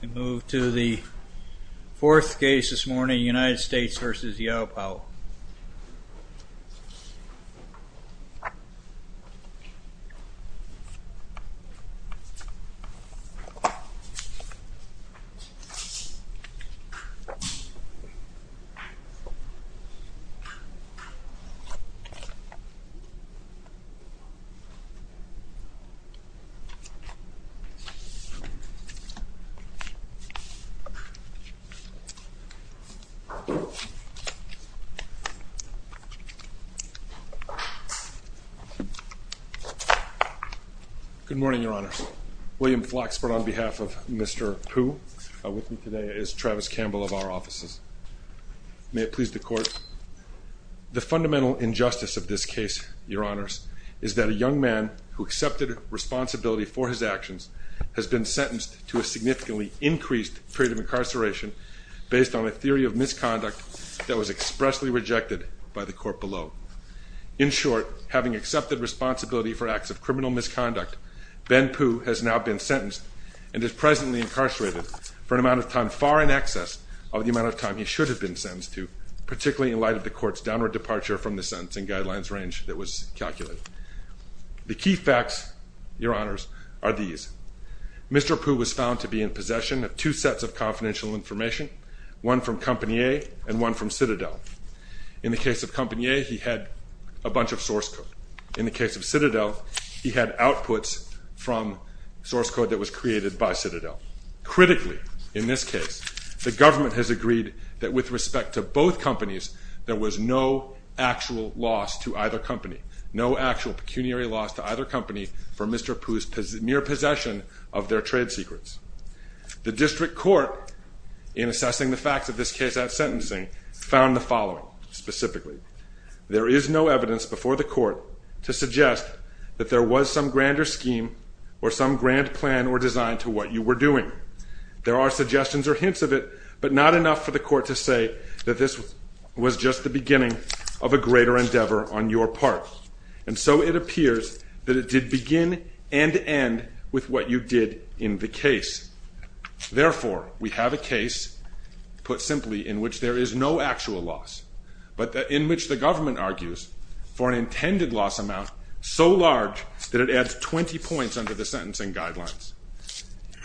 We move to the fourth case this morning United States v. Yihao Pao Good morning, your honors. William Flaxbert on behalf of Mr. Pu. With me today is Travis Campbell of our offices. May it please the court. The fundamental injustice of this case, your honors, is that a young man who accepted responsibility for his actions has been sentenced to a significantly increased period of incarceration based on a theory of misconduct that was expressly rejected by the court below. In short, having accepted responsibility for acts of criminal misconduct, Ben Pu has now been sentenced and is presently incarcerated for an amount of time far in excess of the amount of time he should have been sentenced to, particularly in light of the court's downward departure from the sentencing guidelines range that Mr. Pu was found to be in possession of two sets of confidential information, one from Compagnie and one from Citadel. In the case of Compagnie, he had a bunch of source code. In the case of Citadel, he had outputs from source code that was created by Citadel. Critically, in this case, the government has agreed that with respect to both companies there was no actual loss to either company, no actual pecuniary loss to either company for Mr. Pu's mere possession of their trade secrets. The district court, in assessing the facts of this case at sentencing, found the following specifically. There is no evidence before the court to suggest that there was some grander scheme or some grand plan or design to what you were doing. There are suggestions or hints of it, but not enough for the court to say that this was just the beginning of a greater endeavor on your part. And so it appears that it did begin and end with what you did in the case. Therefore, we have a case, put simply, in which there is no actual loss, but in which the government argues for an intended loss amount so large that it adds 20 points under the sentencing guidelines.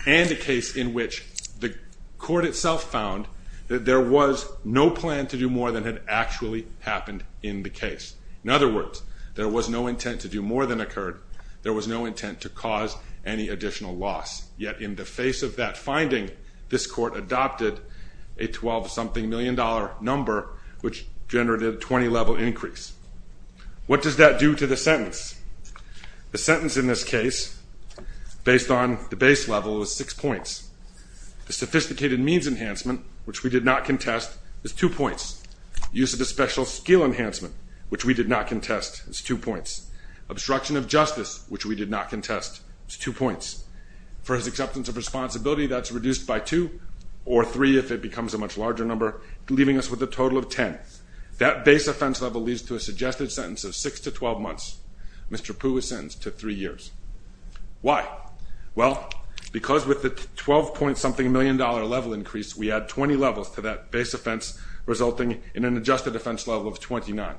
And a case in which the court itself found that there was no plan to do more than had actually happened in the case. There was no intent to cause any additional loss. Yet in the face of that finding, this court adopted a 12-something million dollar number, which generated a 20-level increase. What does that do to the sentence? The sentence in this case, based on the base level, was 6 points. The sophisticated means enhancement, which we did not contest, is 2 points. Use of the special skill enhancement, which we did not contest, is 2 points. Obstruction of justice, which we did not contest, is 2 points. For his acceptance of responsibility, that's reduced by 2, or 3 if it becomes a much larger number, leaving us with a total of 10. That base offense level leads to a suggested sentence of 6 to 12 months. Mr. Pugh was sentenced to 3 years. Why? Well, because with the 12-point-something million dollar level increase, we add 20 levels to that base offense, resulting in an adjusted offense level of 29,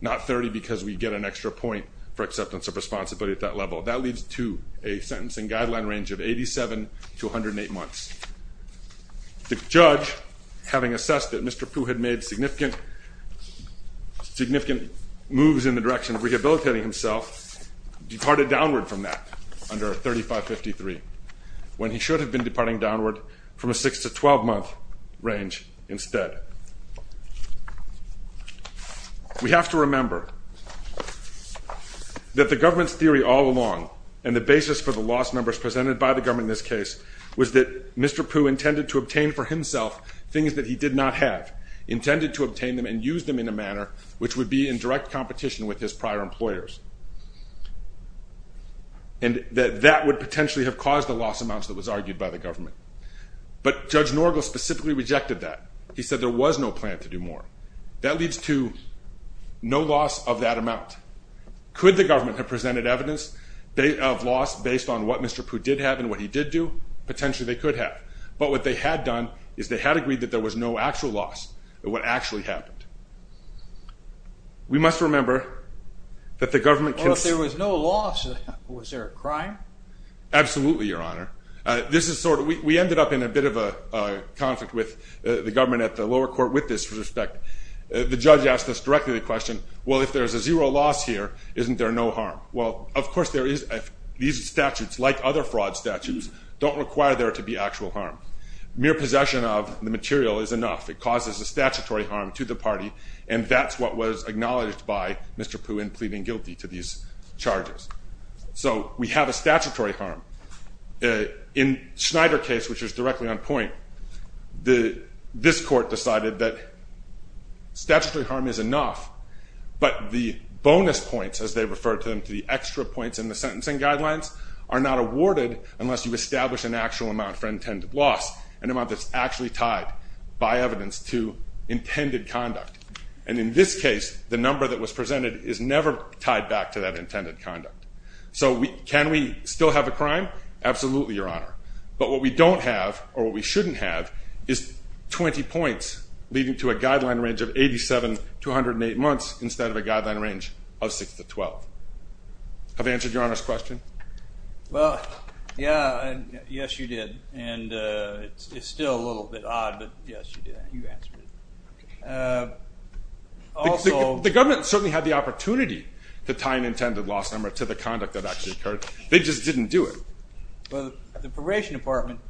not 30 because we get an extra point for acceptance of responsibility at that level. That leads to a sentencing guideline range of 87 to 108 months. The judge, having assessed that Mr. Pugh had made significant moves in the direction of rehabilitating himself, departed downward from that, under 3553, when he should have been departing downward from the 6 to 12 month range instead. We have to remember that the government's theory all along, and the basis for the loss numbers presented by the government in this case, was that Mr. Pugh intended to obtain for himself things that he did not have, intended to obtain them and use them in a manner which would be in direct competition with his prior employers, and that that would potentially have caused the loss amounts that was argued by the government. But Judge Norgal specifically rejected that. He said there was no plan to do more. That leads to no loss of that amount. Could the government have presented evidence of loss based on what Mr. Pugh did have and what he did do? Potentially they could have. But what they had done is they had agreed that there was no actual loss of what actually happened. We must remember that the government can... Well, if there was no loss, was there a crime? Absolutely, Your Honor. We ended up in a bit of a conflict with the government at the lower court with this respect. The judge asked us directly the question, well, if there's a zero loss here, isn't there no harm? Well, of course there is. These statutes, like other fraud statutes, don't require there to be actual harm. Mere possession of the material is enough. It causes a statutory harm to the party, and that's what was acknowledged by the judge. So we have a statutory harm. In Schneider's case, which is directly on point, this court decided that statutory harm is enough, but the bonus points, as they referred to them, the extra points in the sentencing guidelines, are not awarded unless you establish an actual amount for intended loss, an amount that's actually tied by evidence to intended conduct. And in this case, the number that was presented is never tied back to that intended conduct. So can we still have a crime? Absolutely, Your Honor. But what we don't have, or what we shouldn't have, is 20 points leading to a guideline range of 87 to 108 months instead of a guideline range of 6 to 12. Have I answered Your Honor's question? Well, yeah. Yes, you did. And it's still a little bit odd, but yes, you did. The government certainly had the opportunity to tie an intended loss number to the conduct that actually occurred. They just didn't do it. But the Probation Department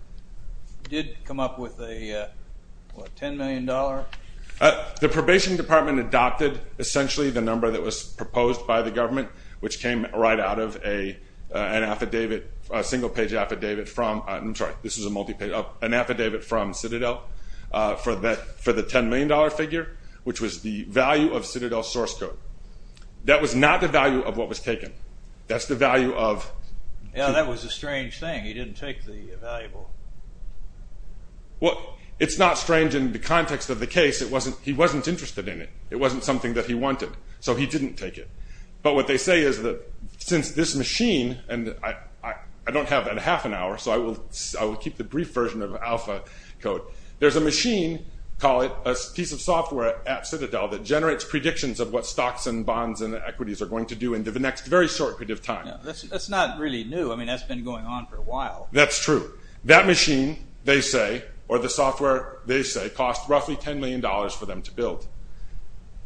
did come up with a, what, $10 million? The Probation Department adopted, essentially, the number that was proposed by the government, which came right out of an affidavit, a single-page affidavit from, I'm sorry, this is a multi-page, an affidavit from Citadel for the $10 million figure, which was the value of Citadel's source code. That was not the value of what was taken. That's the value of... Yeah, that was a strange thing. He didn't take the valuable... Well, it's not strange in the context of the case. He wasn't interested in it. It wasn't something that he wanted, so he didn't take it. But what they say is that since this machine, and I don't have half an hour, so I will keep the brief version of alpha code. There's a machine, call it a piece of software at Citadel, that generates predictions of what stocks and bonds and equities are going to do into the next very short period of time. That's not really new. I mean, that's been going on for a while. That's true. That machine, they say, or the software, they say, cost roughly $10 million for them to build.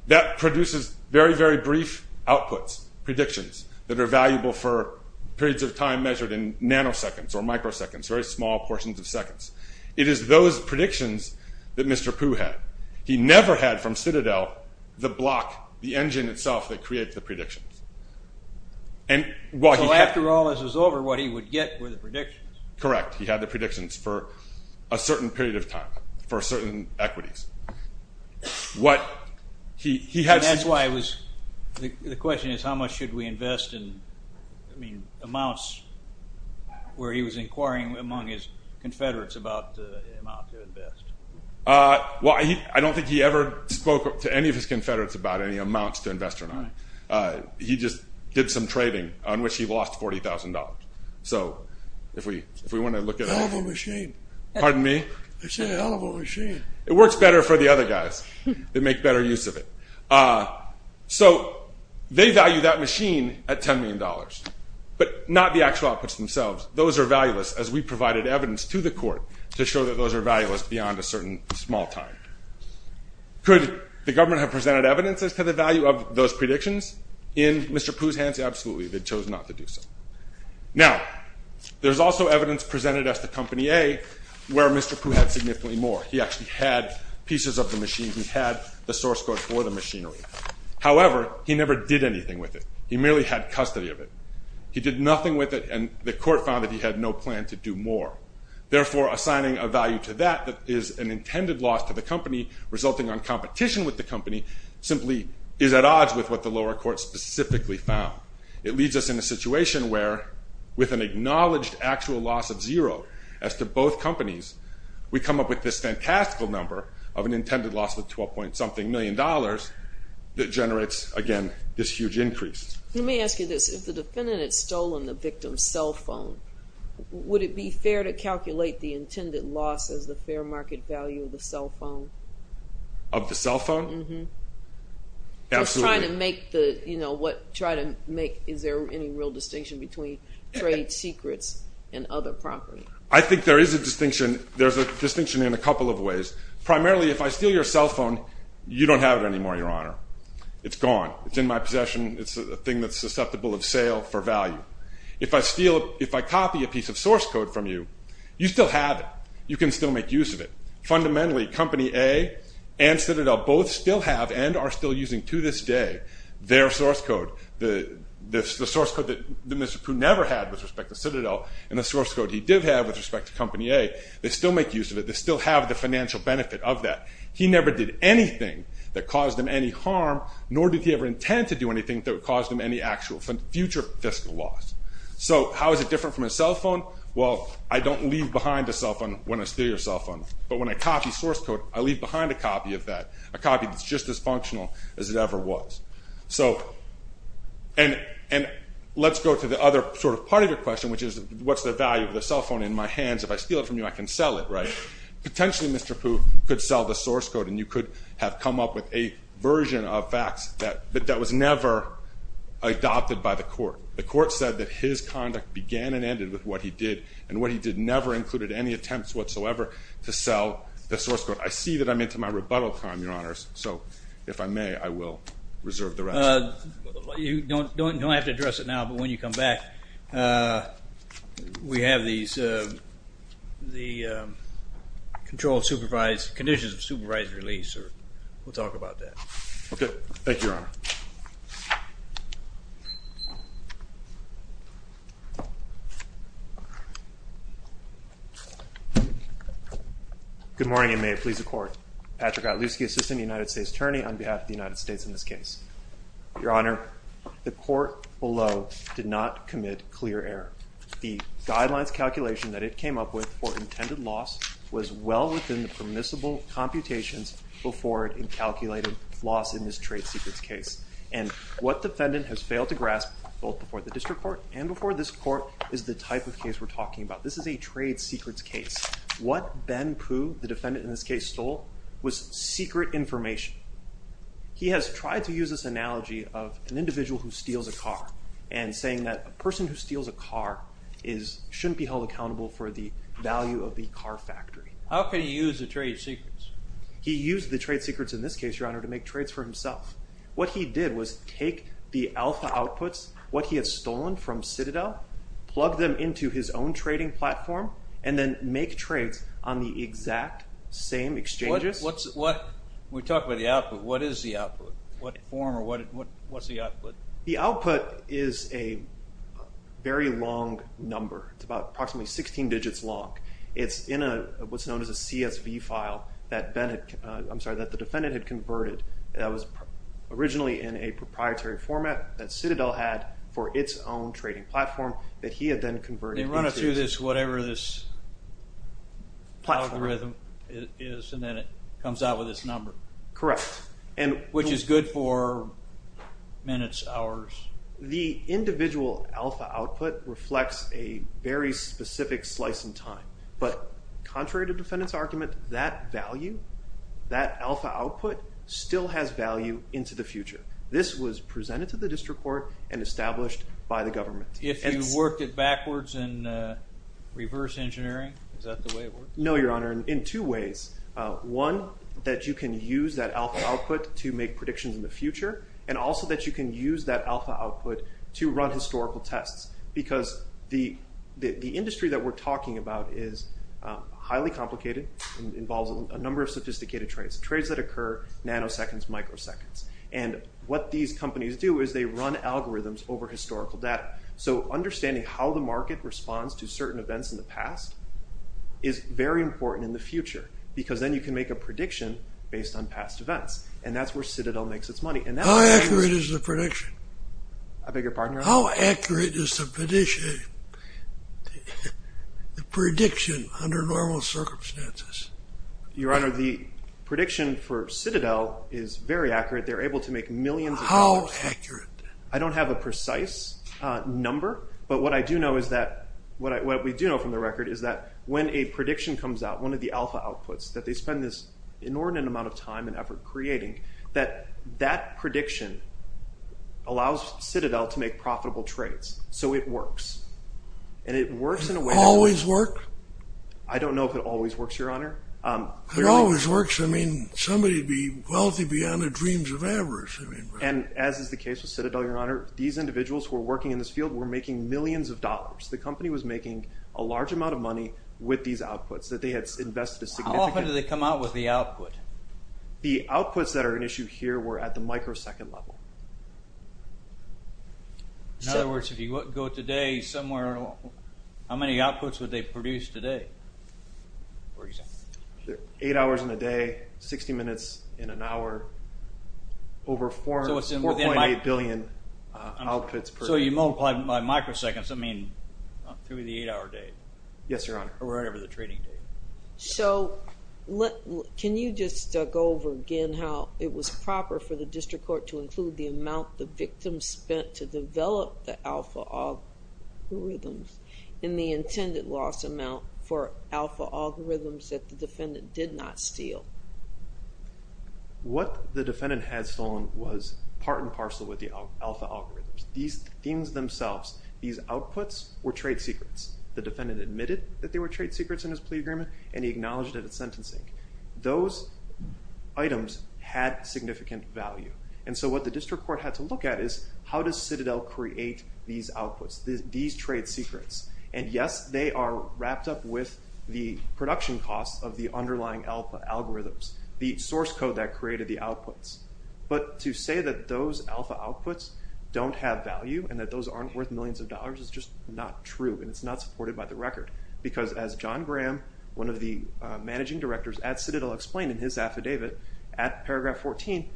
That produces very, very brief outputs, predictions that are valuable for periods of time measured in nanoseconds or microseconds, very small portions of seconds. It is those block, the engine itself that creates the predictions. So after all this is over, what he would get were the predictions. Correct. He had the predictions for a certain period of time, for certain equities. That's why it was... The question is, how much should we invest in amounts where he was inquiring among his confederates about the amount to invest? Well, I don't think he ever spoke to any of his confederates about any amounts to invest or not. He just did some trading on which he lost $40,000. So if we want to look at... It's a hell of a machine. Pardon me? It's a hell of a machine. It works better for the other guys that make better use of it. So they value that machine at $10 million, but not the actual outputs themselves. Those are valueless, as we provided evidence to the court to show that those are valueless beyond a certain small time. Could the government have presented evidences to the value of those predictions? In Mr. Poo's hands, absolutely. They chose not to do so. Now, there's also evidence presented at the Company A where Mr. Poo had significantly more. He actually had pieces of the machine. He had the source code for the machinery. However, he never did anything with it. He merely had custody of it. He did nothing with it, and the court found that he had no plan to do more. Therefore, assigning a value to that that is an intended loss to the company, resulting on competition with the company, simply is at odds with what the lower court specifically found. It leaves us in a situation where, with an acknowledged actual loss of zero as to both companies, we come up with this fantastical number of an intended loss of $12.something million that generates, again, this huge increase. Let me ask you this. If the defendant had stolen the victim's cell phone, would it be fair to market value of the cell phone? Of the cell phone? Absolutely. Is there any real distinction between trade secrets and other property? I think there is a distinction. There's a distinction in a couple of ways. Primarily, if I steal your cell phone, you don't have it anymore, Your Honor. It's gone. It's in my possession. It's a thing that's susceptible of sale for value. If I copy a piece of source code from you, you still have it. You can still make use of it. Fundamentally, Company A and Citadel both still have, and are still using to this day, their source code. The source code that Mr. Pooh never had with respect to Citadel, and the source code he did have with respect to Company A, they still make use of it. They still have the financial benefit of that. He never did anything that caused them any harm, nor did he ever intend to do anything that would cause them any actual future fiscal loss. So how is it different from a cell phone? Well, I don't leave behind a cell phone when I steal your cell phone, but when I copy source code, I leave behind a copy of that. A copy that's just as functional as it ever was. So, and let's go to the other sort of part of your question, which is, what's the value of the cell phone in my hands? If I steal it from you, I can sell it, right? Potentially, Mr. Pooh could sell the source code, and you could have come up with a version of facts that was never adopted by the court. The court said that his conduct began and ended with what he did, and what he did never included any attempts whatsoever to sell the source code. I see that I'm into my rebuttal time, Your Honors, so if I may, I will reserve the rest. You don't have to address it now, but when you come back, we have the conditions of supervised release, or we'll talk about that. Okay, thank you, Your Honor. Good morning, and may it please the Court. Patrick Otluski, Assistant United States Attorney on behalf of the United States in this case. Your Honor, the court below did not commit clear error. The guidelines calculation that it came up with for in this trade secrets case, and what defendant has failed to grasp, both before the district court and before this court, is the type of case we're talking about. This is a trade secrets case. What Ben Pooh, the defendant in this case, stole was secret information. He has tried to use this analogy of an individual who steals a car, and saying that a person who steals a car shouldn't be held accountable for the value of the car factory. How can he use the trade secrets? He used the trade secrets in this case, Your Honor, to make trades for himself. What he did was take the alpha outputs, what he had stolen from Citadel, plug them into his own trading platform, and then make trades on the exact same exchanges. We talked about the output. What is the output? What form, or what's the output? The output is a very long number. It's about approximately 16 digits long. It's in what's known as a CSV file that the defendant had converted that was originally in a proprietary format that Citadel had for its own trading platform that he had then converted. They run it through this, whatever this algorithm is, and then it comes out with this number. Correct. Which is good for minutes, hours. The individual alpha output reflects a very but contrary to defendant's argument, that value, that alpha output still has value into the future. This was presented to the district court and established by the government. If you work it backwards in reverse engineering, is that the way it works? No, Your Honor, in two ways. One, that you can use that alpha output to make predictions in the future, and also that you can use that alpha output to run historical tests. The industry that we're talking about is highly complicated and involves a number of sophisticated trades. Trades that occur nanoseconds, microseconds. What these companies do is they run algorithms over historical data. Understanding how the market responds to certain events in the past is very important in the future, because then you can make a prediction based on past events. That's where Citadel makes its money. How accurate is the prediction? I beg your pardon, Your Honor? How accurate is the prediction under normal circumstances? Your Honor, the prediction for Citadel is very accurate. They're able to make millions of dollars. How accurate? I don't have a precise number, but what I do know is that what we do know from the record is that when a prediction comes out, one of the alpha outputs, that they spend this inordinate amount of time and effort creating, that that prediction allows Citadel to make profitable trades. So it works. And it works in a way... Does it always work? I don't know if it always works, Your Honor. It always works. I mean, somebody would be wealthy beyond the dreams of avarice. And as is the case with Citadel, Your Honor, these individuals who are working in this field were making millions of dollars. The company was making a large amount of money with these outputs that they had invested a significant... How often do they come out with the output? The outputs that are an issue here were at the microsecond level. In other words, if you go today somewhere, how many outputs would they produce today, for example? Eight hours in a day, 60 minutes in an hour, over 4.8 billion outputs per day. So you multiply by microseconds. I mean, through the eight hour day. Yes, Your Honor. Or whatever the trading day. So can you just go over again how it was proper for the District Court to include the amount the victim spent to develop the alpha algorithms and the intended loss amount for alpha algorithms that the defendant did not steal? What the defendant had stolen was part and parcel with the alpha algorithms. These themes themselves, these outputs were trade secrets. The defendant admitted that they were trade secrets in his plea agreement and he acknowledged it at sentencing. Those items had significant value. And so what the District Court had to look at is, how does Citadel create these outputs, these trade secrets? And yes, they are wrapped up with the production costs of the underlying alpha algorithms, the source code that created the outputs. But to say that those alpha outputs don't have value and that those aren't worth millions of dollars is just not true and it's not supported by the record. Because as John Graham, one of the managing directors at Citadel, explained in his affidavit at paragraph 14,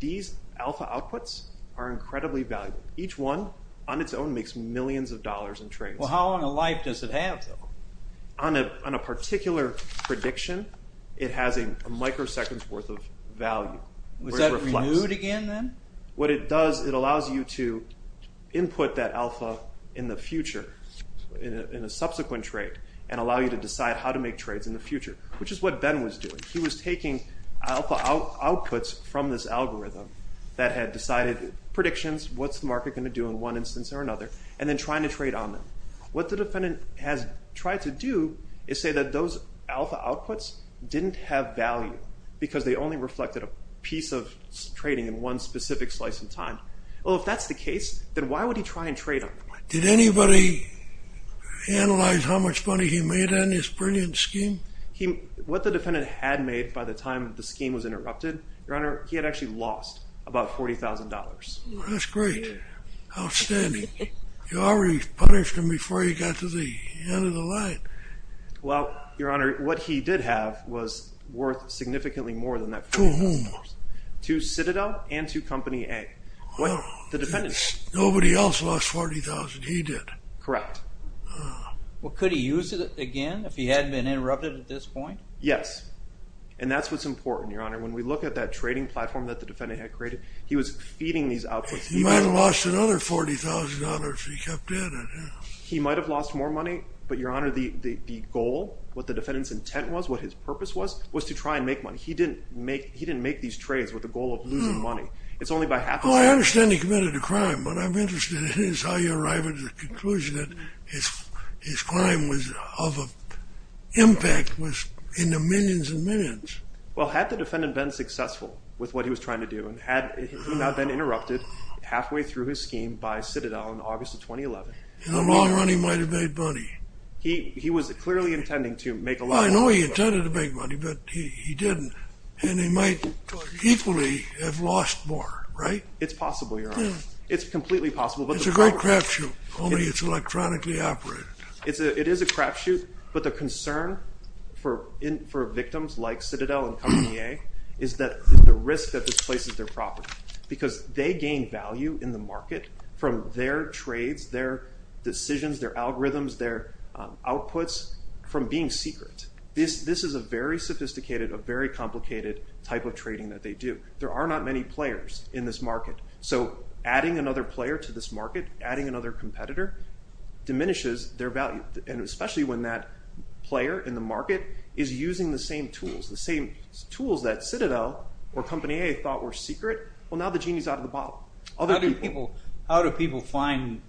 these alpha outputs are incredibly valuable. Each one on its own makes millions of dollars in trades. Well, how long a life does it have, though? On a particular prediction, it has a microsecond's worth of value. Was that renewed again, then? What it does, it allows you to input that alpha in the future, in a subsequent trade, and allow you to decide how to make trades in the future, which is what Ben was doing. He was taking alpha outputs from this algorithm that had decided predictions, what's the market going to do in one instance or another, and then trying to trade on them. What the defendant has tried to do is say that those pieces of trading in one specific slice of time. Well, if that's the case, then why would he try and trade on them? Did anybody analyze how much money he made on this brilliant scheme? What the defendant had made by the time the scheme was interrupted, Your Honor, he had actually lost about $40,000. That's great. Outstanding. You already punished him before he got to the end of the line. Well, Your Honor, what he did have was worth significantly more than that. To whom? To Citadel and to Company A. Nobody else lost $40,000. He did. Correct. Well, could he use it again if he hadn't been interrupted at this point? Yes. And that's what's important, Your Honor. When we look at that trading platform that the defendant had created, he was feeding these outputs. He might have lost another $40,000 if he kept at it. He might have lost more money, but, Your Honor, the goal, what the defendant's intent was, what he didn't make these trades with the goal of losing money. It's only by half a percent. Well, I understand he committed a crime. What I'm interested in is how you arrive at the conclusion that his crime was of an impact in the millions and millions. Well, had the defendant been successful with what he was trying to do and had not been interrupted halfway through his scheme by Citadel in August of 2011... In the long run, he might have made money. He was clearly intending to make a lot more money. I know he intended to make money, but he didn't. And he might equally have lost more, right? It's possible, Your Honor. It's completely possible. It's a great crapshoot, only it's electronically operated. It is a crapshoot, but the concern for victims like Citadel and Company A is that the risk that this places their property, because they gain value in the market from their trades, their This is a very sophisticated, a very complicated type of trading that they do. There are not many players in this market, so adding another player to this market, adding another competitor, diminishes their value. And especially when that player in the market is using the same tools, the same tools that Citadel or Company A thought were secret. How do people find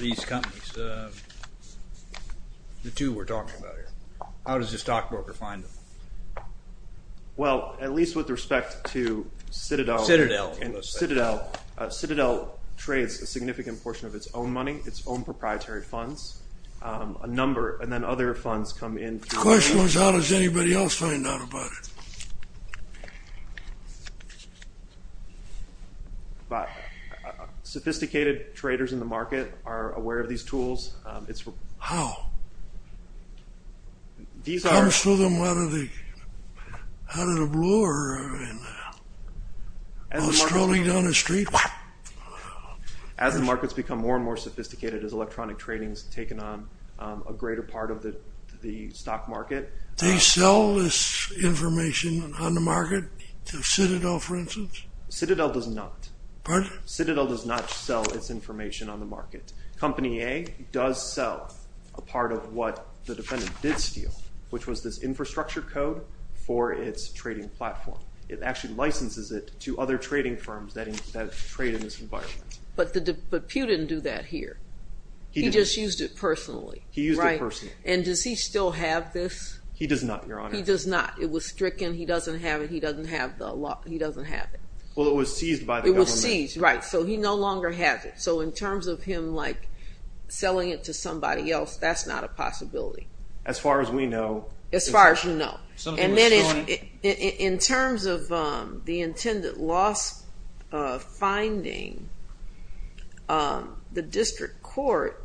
these companies? The two we're talking about here, how does a stockbroker find them? Well, at least with respect to Citadel, Citadel trades a significant portion of its own money, its own proprietary funds, a number, and then other funds come in. The question was, how does anybody else find out about it? Sophisticated traders in the market are aware of these tools. How? It comes to them out of the blue or, I don't know, strolling down the street? As the markets become more and more sophisticated as electronic trading has taken on a greater part of the stock market. They sell this information on the market to Citadel, for instance? Citadel does not. Pardon? Citadel does not sell its information on the market. Company A does sell a part of what the defendant did steal, which was this infrastructure code for its trading platform. It actually licenses it to other trading firms that trade in this environment. But Pew didn't do that here. He just used it personally. He used it personally. And does he still have this? He does not, Your Honor. He does not. It was stricken. He doesn't have it. He doesn't have the law. He doesn't have it. Well, it was seized by the government. It was seized, right. So he no longer has it. So in terms of him, like, selling it to somebody else, that's not a possibility. As far as we know. As far as you know. And then in terms of the intended loss finding, the district court,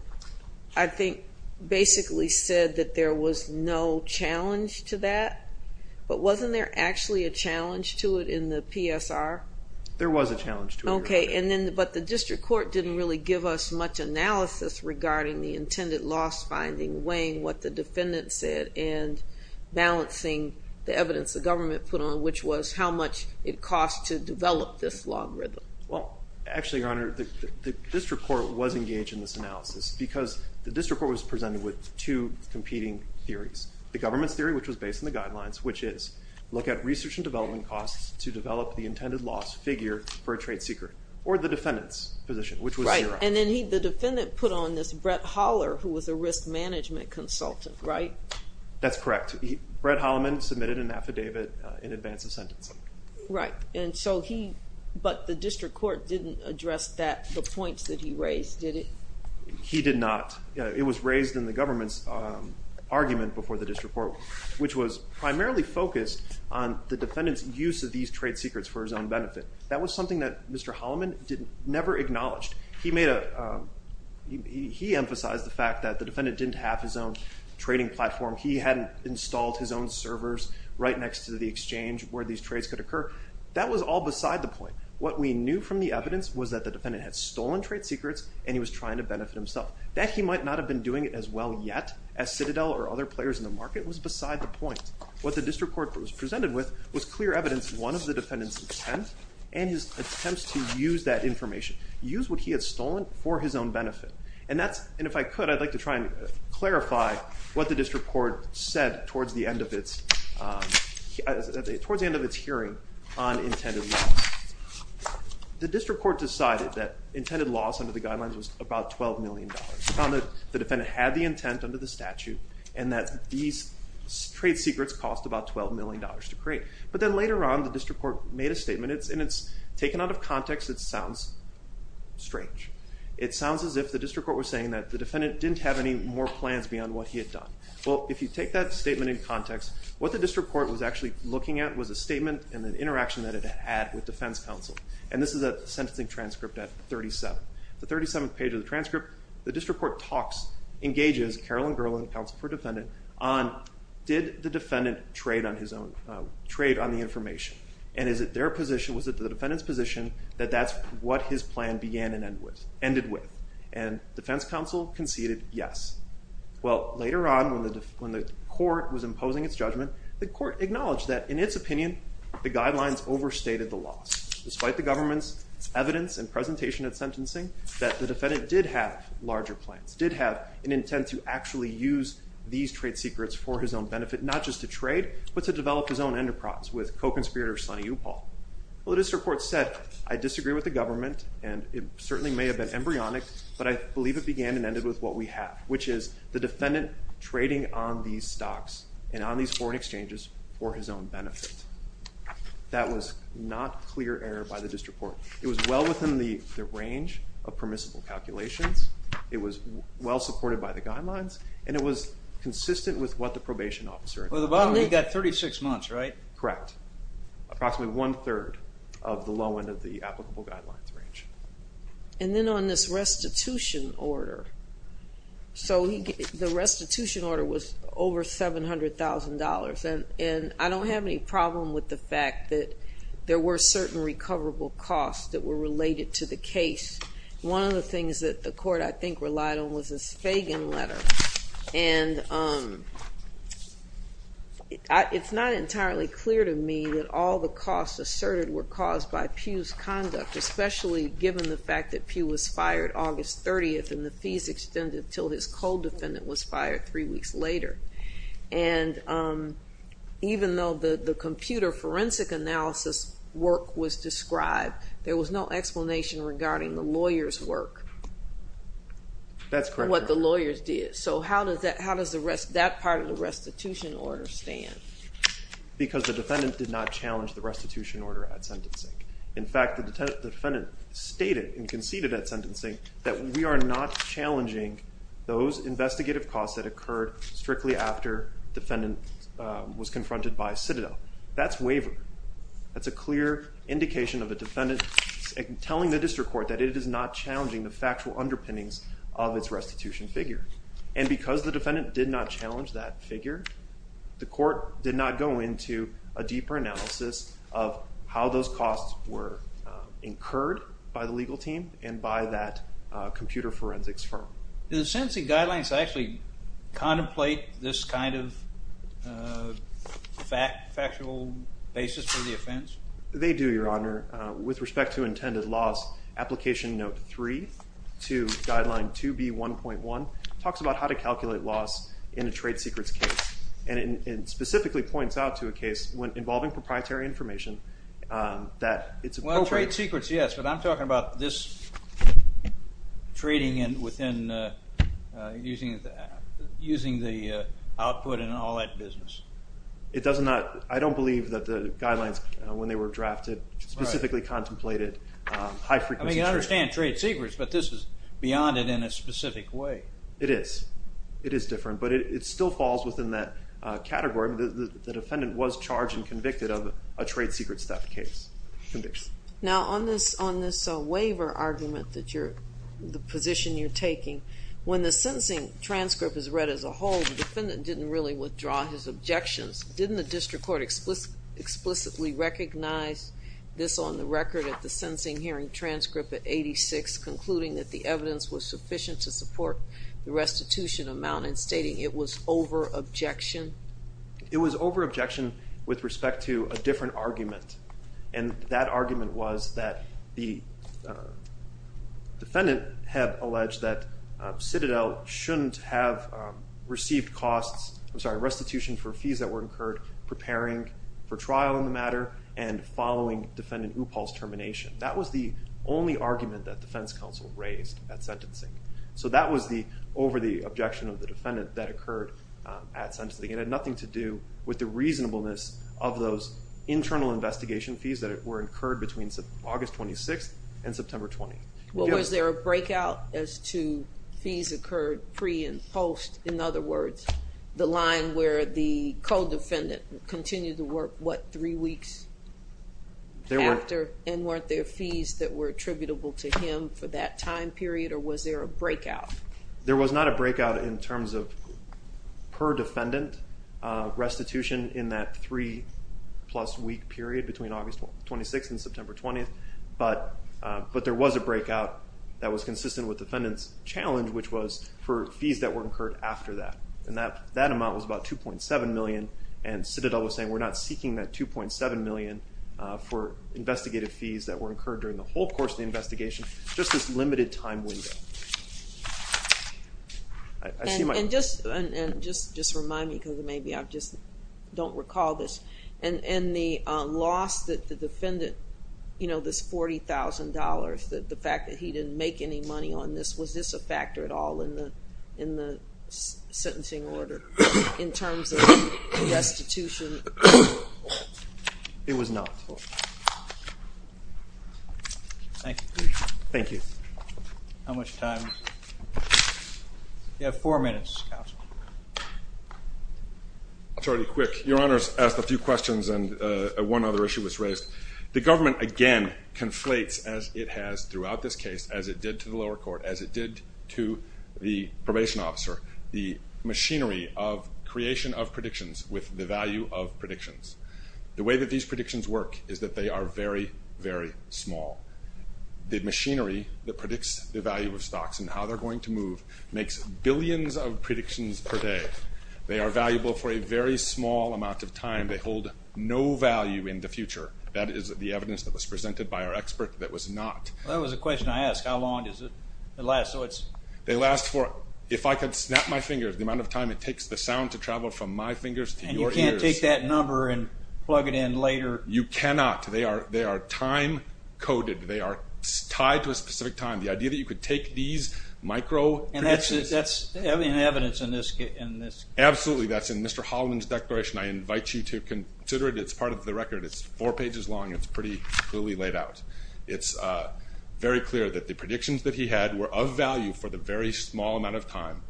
I think, basically said that there was no challenge to that. But wasn't there actually a challenge to it in the PSR? There was a challenge to it, Your Honor. Okay. And then, but the district court didn't really give us much analysis regarding the intended loss finding, weighing what the defendant said, and balancing the evidence the government put on, which was how much it cost to develop this logarithm. Well, actually, Your Honor, the district court was engaged in this analysis because the district court was presented with two competing theories. The government's theory, which was based on the guidelines, which is look at research and development costs to develop the intended loss figure for a trade seeker, or the defendant's position, which was zero. And then the defendant put on this Brett Holler, who was a risk management consultant, right? That's correct. Brett Holliman submitted an affidavit in advance of sentencing. Right. And so he, but the district court didn't address that, the points that he raised, did it? He did not. It was raised in the government's argument before the district court, which was primarily focused on the defendant's use of these trade secrets for his own benefit. That was something that Mr. Holliman never acknowledged. He made a, he emphasized the fact that the defendant didn't have his own trading platform. He hadn't installed his own servers right next to the exchange where these trades could occur. That was all beside the point. What we knew from the evidence was that the defendant had stolen trade secrets and he was trying to benefit himself. That he might not have been doing it as well yet as Citadel or other players in the market was beside the point. What the district court was presented with was clear evidence of one of the defendant's intent and his attempts to use that information, use what he had stolen for his own benefit. And that's, and if I could, I'd like to try and clarify what the district court said towards the end of its, towards the end of its hearing on intended loss. The district court decided that intended loss under the guidelines was about $12 million. Found that the defendant had the intent under the statute and that these trade secrets cost about $12 million to create. But then later on, the district court made a statement, and it's taken out of context, it sounds strange. It sounds as if the district court was saying that the defendant didn't have any more plans beyond what he had done. Well, if you take that statement in context, what the district court was actually looking at was a statement and an interaction that it had with defense counsel. And this is a sentencing transcript at 37. The 37th page of the transcript, the district court talks, engages Carolyn Gerland, counsel for defendant, on did the defendant trade on his own, trade on the information? And is it their position, was it the defendant's position that that's what his plan began and ended with? And defense counsel conceded yes. Well, later on when the court was imposing its judgment, the court acknowledged that in its opinion, the guidelines overstated the loss. Despite the government's evidence and presentation at sentencing, that the defendant did have larger plans, did have an intent to actually use these trade secrets for his own benefit, not just to trade, but to develop his own enterprise with co-conspirator Sonny Upal. Well, the district court said, I disagree with the government, and it certainly may have been embryonic, but I believe it began and ended with what we have, which is the defendant trading on these stocks and on these foreign exchanges for his own benefit. That was not clear error by the district court. It was well within the range of permissible calculations. It was well supported by the guidelines, and it was consistent with what the probation officer- Well, at the bottom, he got 36 months, right? Correct. Approximately one third of the low end of the applicable guidelines range. And then on this restitution order, so the restitution order was over $700,000, and I don't have any problem with the fact that there were certain recoverable costs that were related to the case. One of the things that the court, I think, relied on was this Fagan letter. And it's not entirely clear to me that all the costs asserted were caused by Pugh's conduct, especially given the fact that Pugh was fired August 30th and the fees extended until his co-defendant was fired three weeks later. And even though the computer forensic analysis work was described, there was no explanation regarding the lawyer's work. That's correct. What the lawyers did. So how does that part of the restitution order stand? Because the defendant did not challenge the restitution order at sentencing. In fact, the defendant stated and conceded at sentencing that we are not challenging those investigative costs that occurred strictly after defendant was confronted by Citadel. That's waiver. That's a clear indication of a defendant telling the district court that it is not challenging the factual underpinnings of its restitution figure. And because the defendant did not challenge that figure, the court did not go into a deeper analysis of how those costs were incurred by the legal team and by that computer forensics firm. Do the sentencing guidelines actually contemplate this kind of factual basis for the offense? They do, Your Honor. With respect to intended loss, application note 3 to guideline 2B1.1 talks about how to calculate loss in a trade secrets case. And it specifically points out to a case involving proprietary information that it's appropriate. Well, trade secrets, yes. But I'm talking about this trading and within using the output and all that business. I don't believe that the guidelines when they were drafted specifically contemplated high frequency trade secrets. I mean, I understand trade secrets. But this is beyond it in a specific way. It is. It is different. But it still falls within that category. The defendant was charged and convicted of a trade secrets theft case conviction. Now, on this waiver argument, the position you're taking, when the sentencing transcript is read as a whole, the defendant didn't really withdraw his objections. Didn't the district court explicitly recognize this on the record at the sentencing hearing transcript at 86, concluding that the evidence was sufficient to support the restitution amount and stating it was over-objection? It was over-objection with respect to a different argument. And that argument was that the defendant had alleged that Citadel shouldn't have received costs, I'm sorry, restitution for fees that were incurred preparing for trial in the matter and following defendant Upal's termination. That was the only argument that defense counsel raised at sentencing. So that was the over-the-objection of the defendant that occurred at sentencing. It had nothing to do with the reasonableness of those internal investigation fees that were incurred between August 26 and September 20. Well, was there a breakout as to fees occurred pre and post? In other words, the line where the co-defendant continued to work, what, three weeks after? And weren't there fees that were attributable to him for that time period? Or was there a breakout? There was not a breakout in terms of per-defendant restitution in that three-plus-week period between August 26 and September 20. But there was a breakout that was consistent with defendant's challenge, which was for fees that were incurred after that. And that amount was about $2.7 million. And Citadel was saying, we're not seeking that $2.7 million for investigative fees that were incurred during the whole course of the investigation, just this limited time window. And just remind me, because maybe I just don't recall this. In the loss that the defendant, you know, this $40,000, the fact that he didn't make any money on this, was this a factor at all in the sentencing order in terms of restitution? It was not. Thank you. Thank you. How much did you have? Time. You have four minutes, counsel. I'll try to be quick. Your Honor's asked a few questions, and one other issue was raised. The government, again, conflates, as it has throughout this case, as it did to the lower court, as it did to the probation officer, the machinery of creation of predictions with the value of predictions. The way that these predictions work is that they are very, very small. The machinery that predicts the value of stocks and how they're going to move makes billions of predictions per day. They are valuable for a very small amount of time. They hold no value in the future. That is the evidence that was presented by our expert that was not. That was a question I asked. How long does it last? They last for, if I could snap my fingers, the amount of time it takes the sound to travel from my fingers to your ears. And you can't take that number and plug it in later? You cannot. They are time coded. They are tied to a specific time. The idea that you could take these micro predictions. And that's evidence in this case? Absolutely, that's in Mr. Holliman's declaration. I invite you to consider it. It's part of the record. It's four pages long. It's pretty clearly laid out. It's very clear that the predictions that he had were of value for the very small amount of time,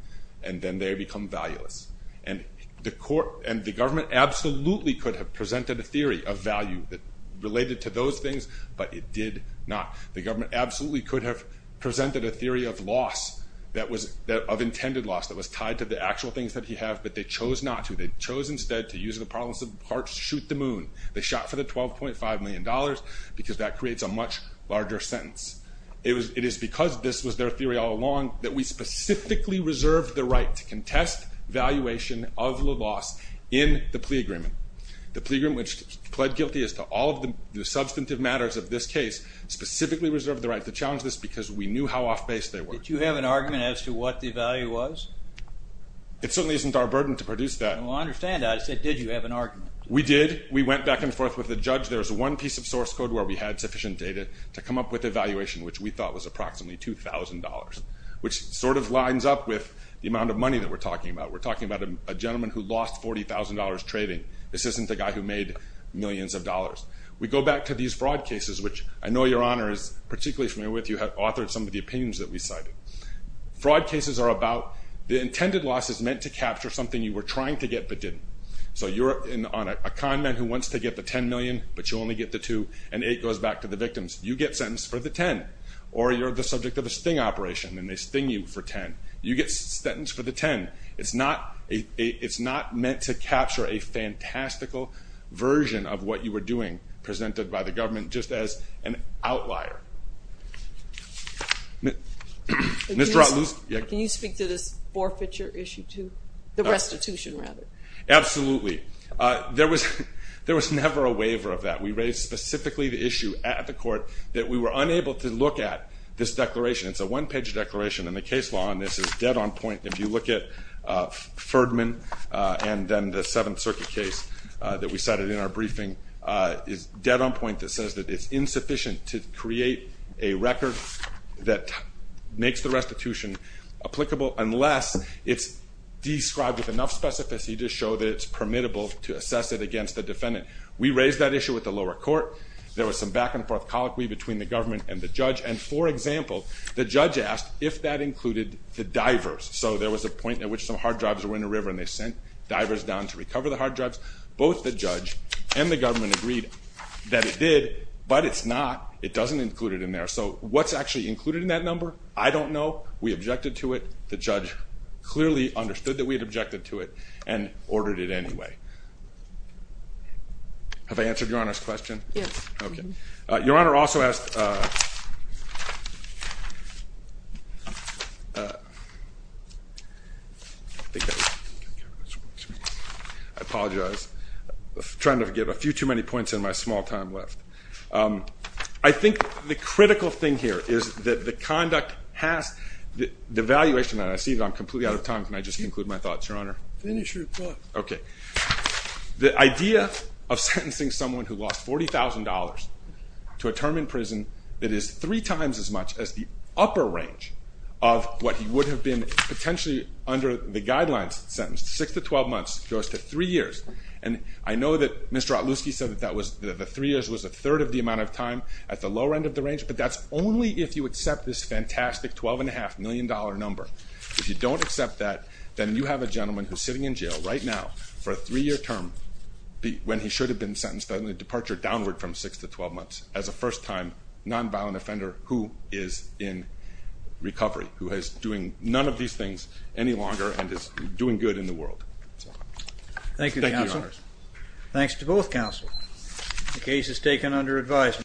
and then they become valueless. And the government absolutely could have presented a theory of value related to those things, but it did not. The government absolutely could have presented a theory of loss, of intended loss, that was tied to the actual things that he had, but they chose not to. They chose instead to use the parlance of hearts to shoot the moon. They shot for the $12.5 million, because that creates a much larger sentence. It is because this was their theory all along that we specifically reserved the right to contest valuation of the loss in the plea agreement. The plea agreement, which pled guilty as to all of the substantive matters of this case, specifically reserved the right to challenge this because we knew how off base they were. Did you have an argument as to what the value was? It certainly isn't our burden to produce that. Well, I understand that. I just said, did you have an argument? We did. We went back and forth with the judge. There's one piece of source code where we had sufficient data to come up with a valuation, which we thought was approximately $2,000, which sort of lines up with the amount of money that we're talking about. We're talking about a gentleman who lost $40,000 trading. This isn't the guy who made millions of dollars. We go back to these fraud cases, which I know Your Honor is particularly familiar with. You have authored some of the opinions that we cited. Fraud cases are about the intended loss is meant to capture something you were trying to get, but didn't. So you're on a con man who wants to get the $10 million, but you only get the $2,000, and $8,000 goes back to the victims. You get sentenced for the $10,000, or you're the subject of a sting operation, and they sting you for $10,000. You get sentenced for the $10,000. It's not meant to capture a fantastical version of what you were doing presented by the government just as an outlier. Can you speak to this forfeiture issue too? The restitution rather. Absolutely. There was never a waiver of that. We raised specifically the issue at the court that we were unable to look at this declaration. It's a one-page declaration, and the case law on this is dead on point. If you look at Ferdman and then the Seventh Circuit case that we cited in our briefing, it's dead on point that says that it's insufficient to create a record that makes the restitution applicable, unless it's described with enough specificity to show that it's permittable to assess it against the defendant. We raised that issue with the lower court. There was some back and forth colloquy between the government and the judge, and for example, the judge asked if that included the divers. So there was a point at which some hard drives were in a river, and they sent divers down to recover the hard drives. Both the judge and the government agreed that it did, but it's not, it doesn't include it in there. So what's actually included in that number? I don't know. We objected to it. The judge clearly understood that we had objected to it and ordered it anyway. Have I answered Your Honor's question? Yes. Your Honor also asked... I think that was... I apologize. Trying to get a few too many points in my small time left. I think the critical thing here is that the conduct has, the evaluation, and I see that I'm completely out of time. Can I just conclude my thoughts, Your Honor? Finish your thoughts. Okay. The idea of sentencing someone who lost $40,000 to a term in prison that is three times as much as the upper range of what he would have been potentially under the guidelines sentenced, six to 12 months, goes to three years. And I know that Mr. Otluski said that the three years was a third of the amount of time at the lower end of the range, but that's only if you accept this fantastic $12.5 million number. If you don't accept that, then you have a gentleman who's sitting in jail right now for a three-year term when he should have been sentenced on the departure downward from six to 12 months as a first-time nonviolent offender who is in recovery, who is doing none of these things any longer and is doing good in the world. Thank you, Your Honor. Thanks to both counsel. The case is taken under advisement.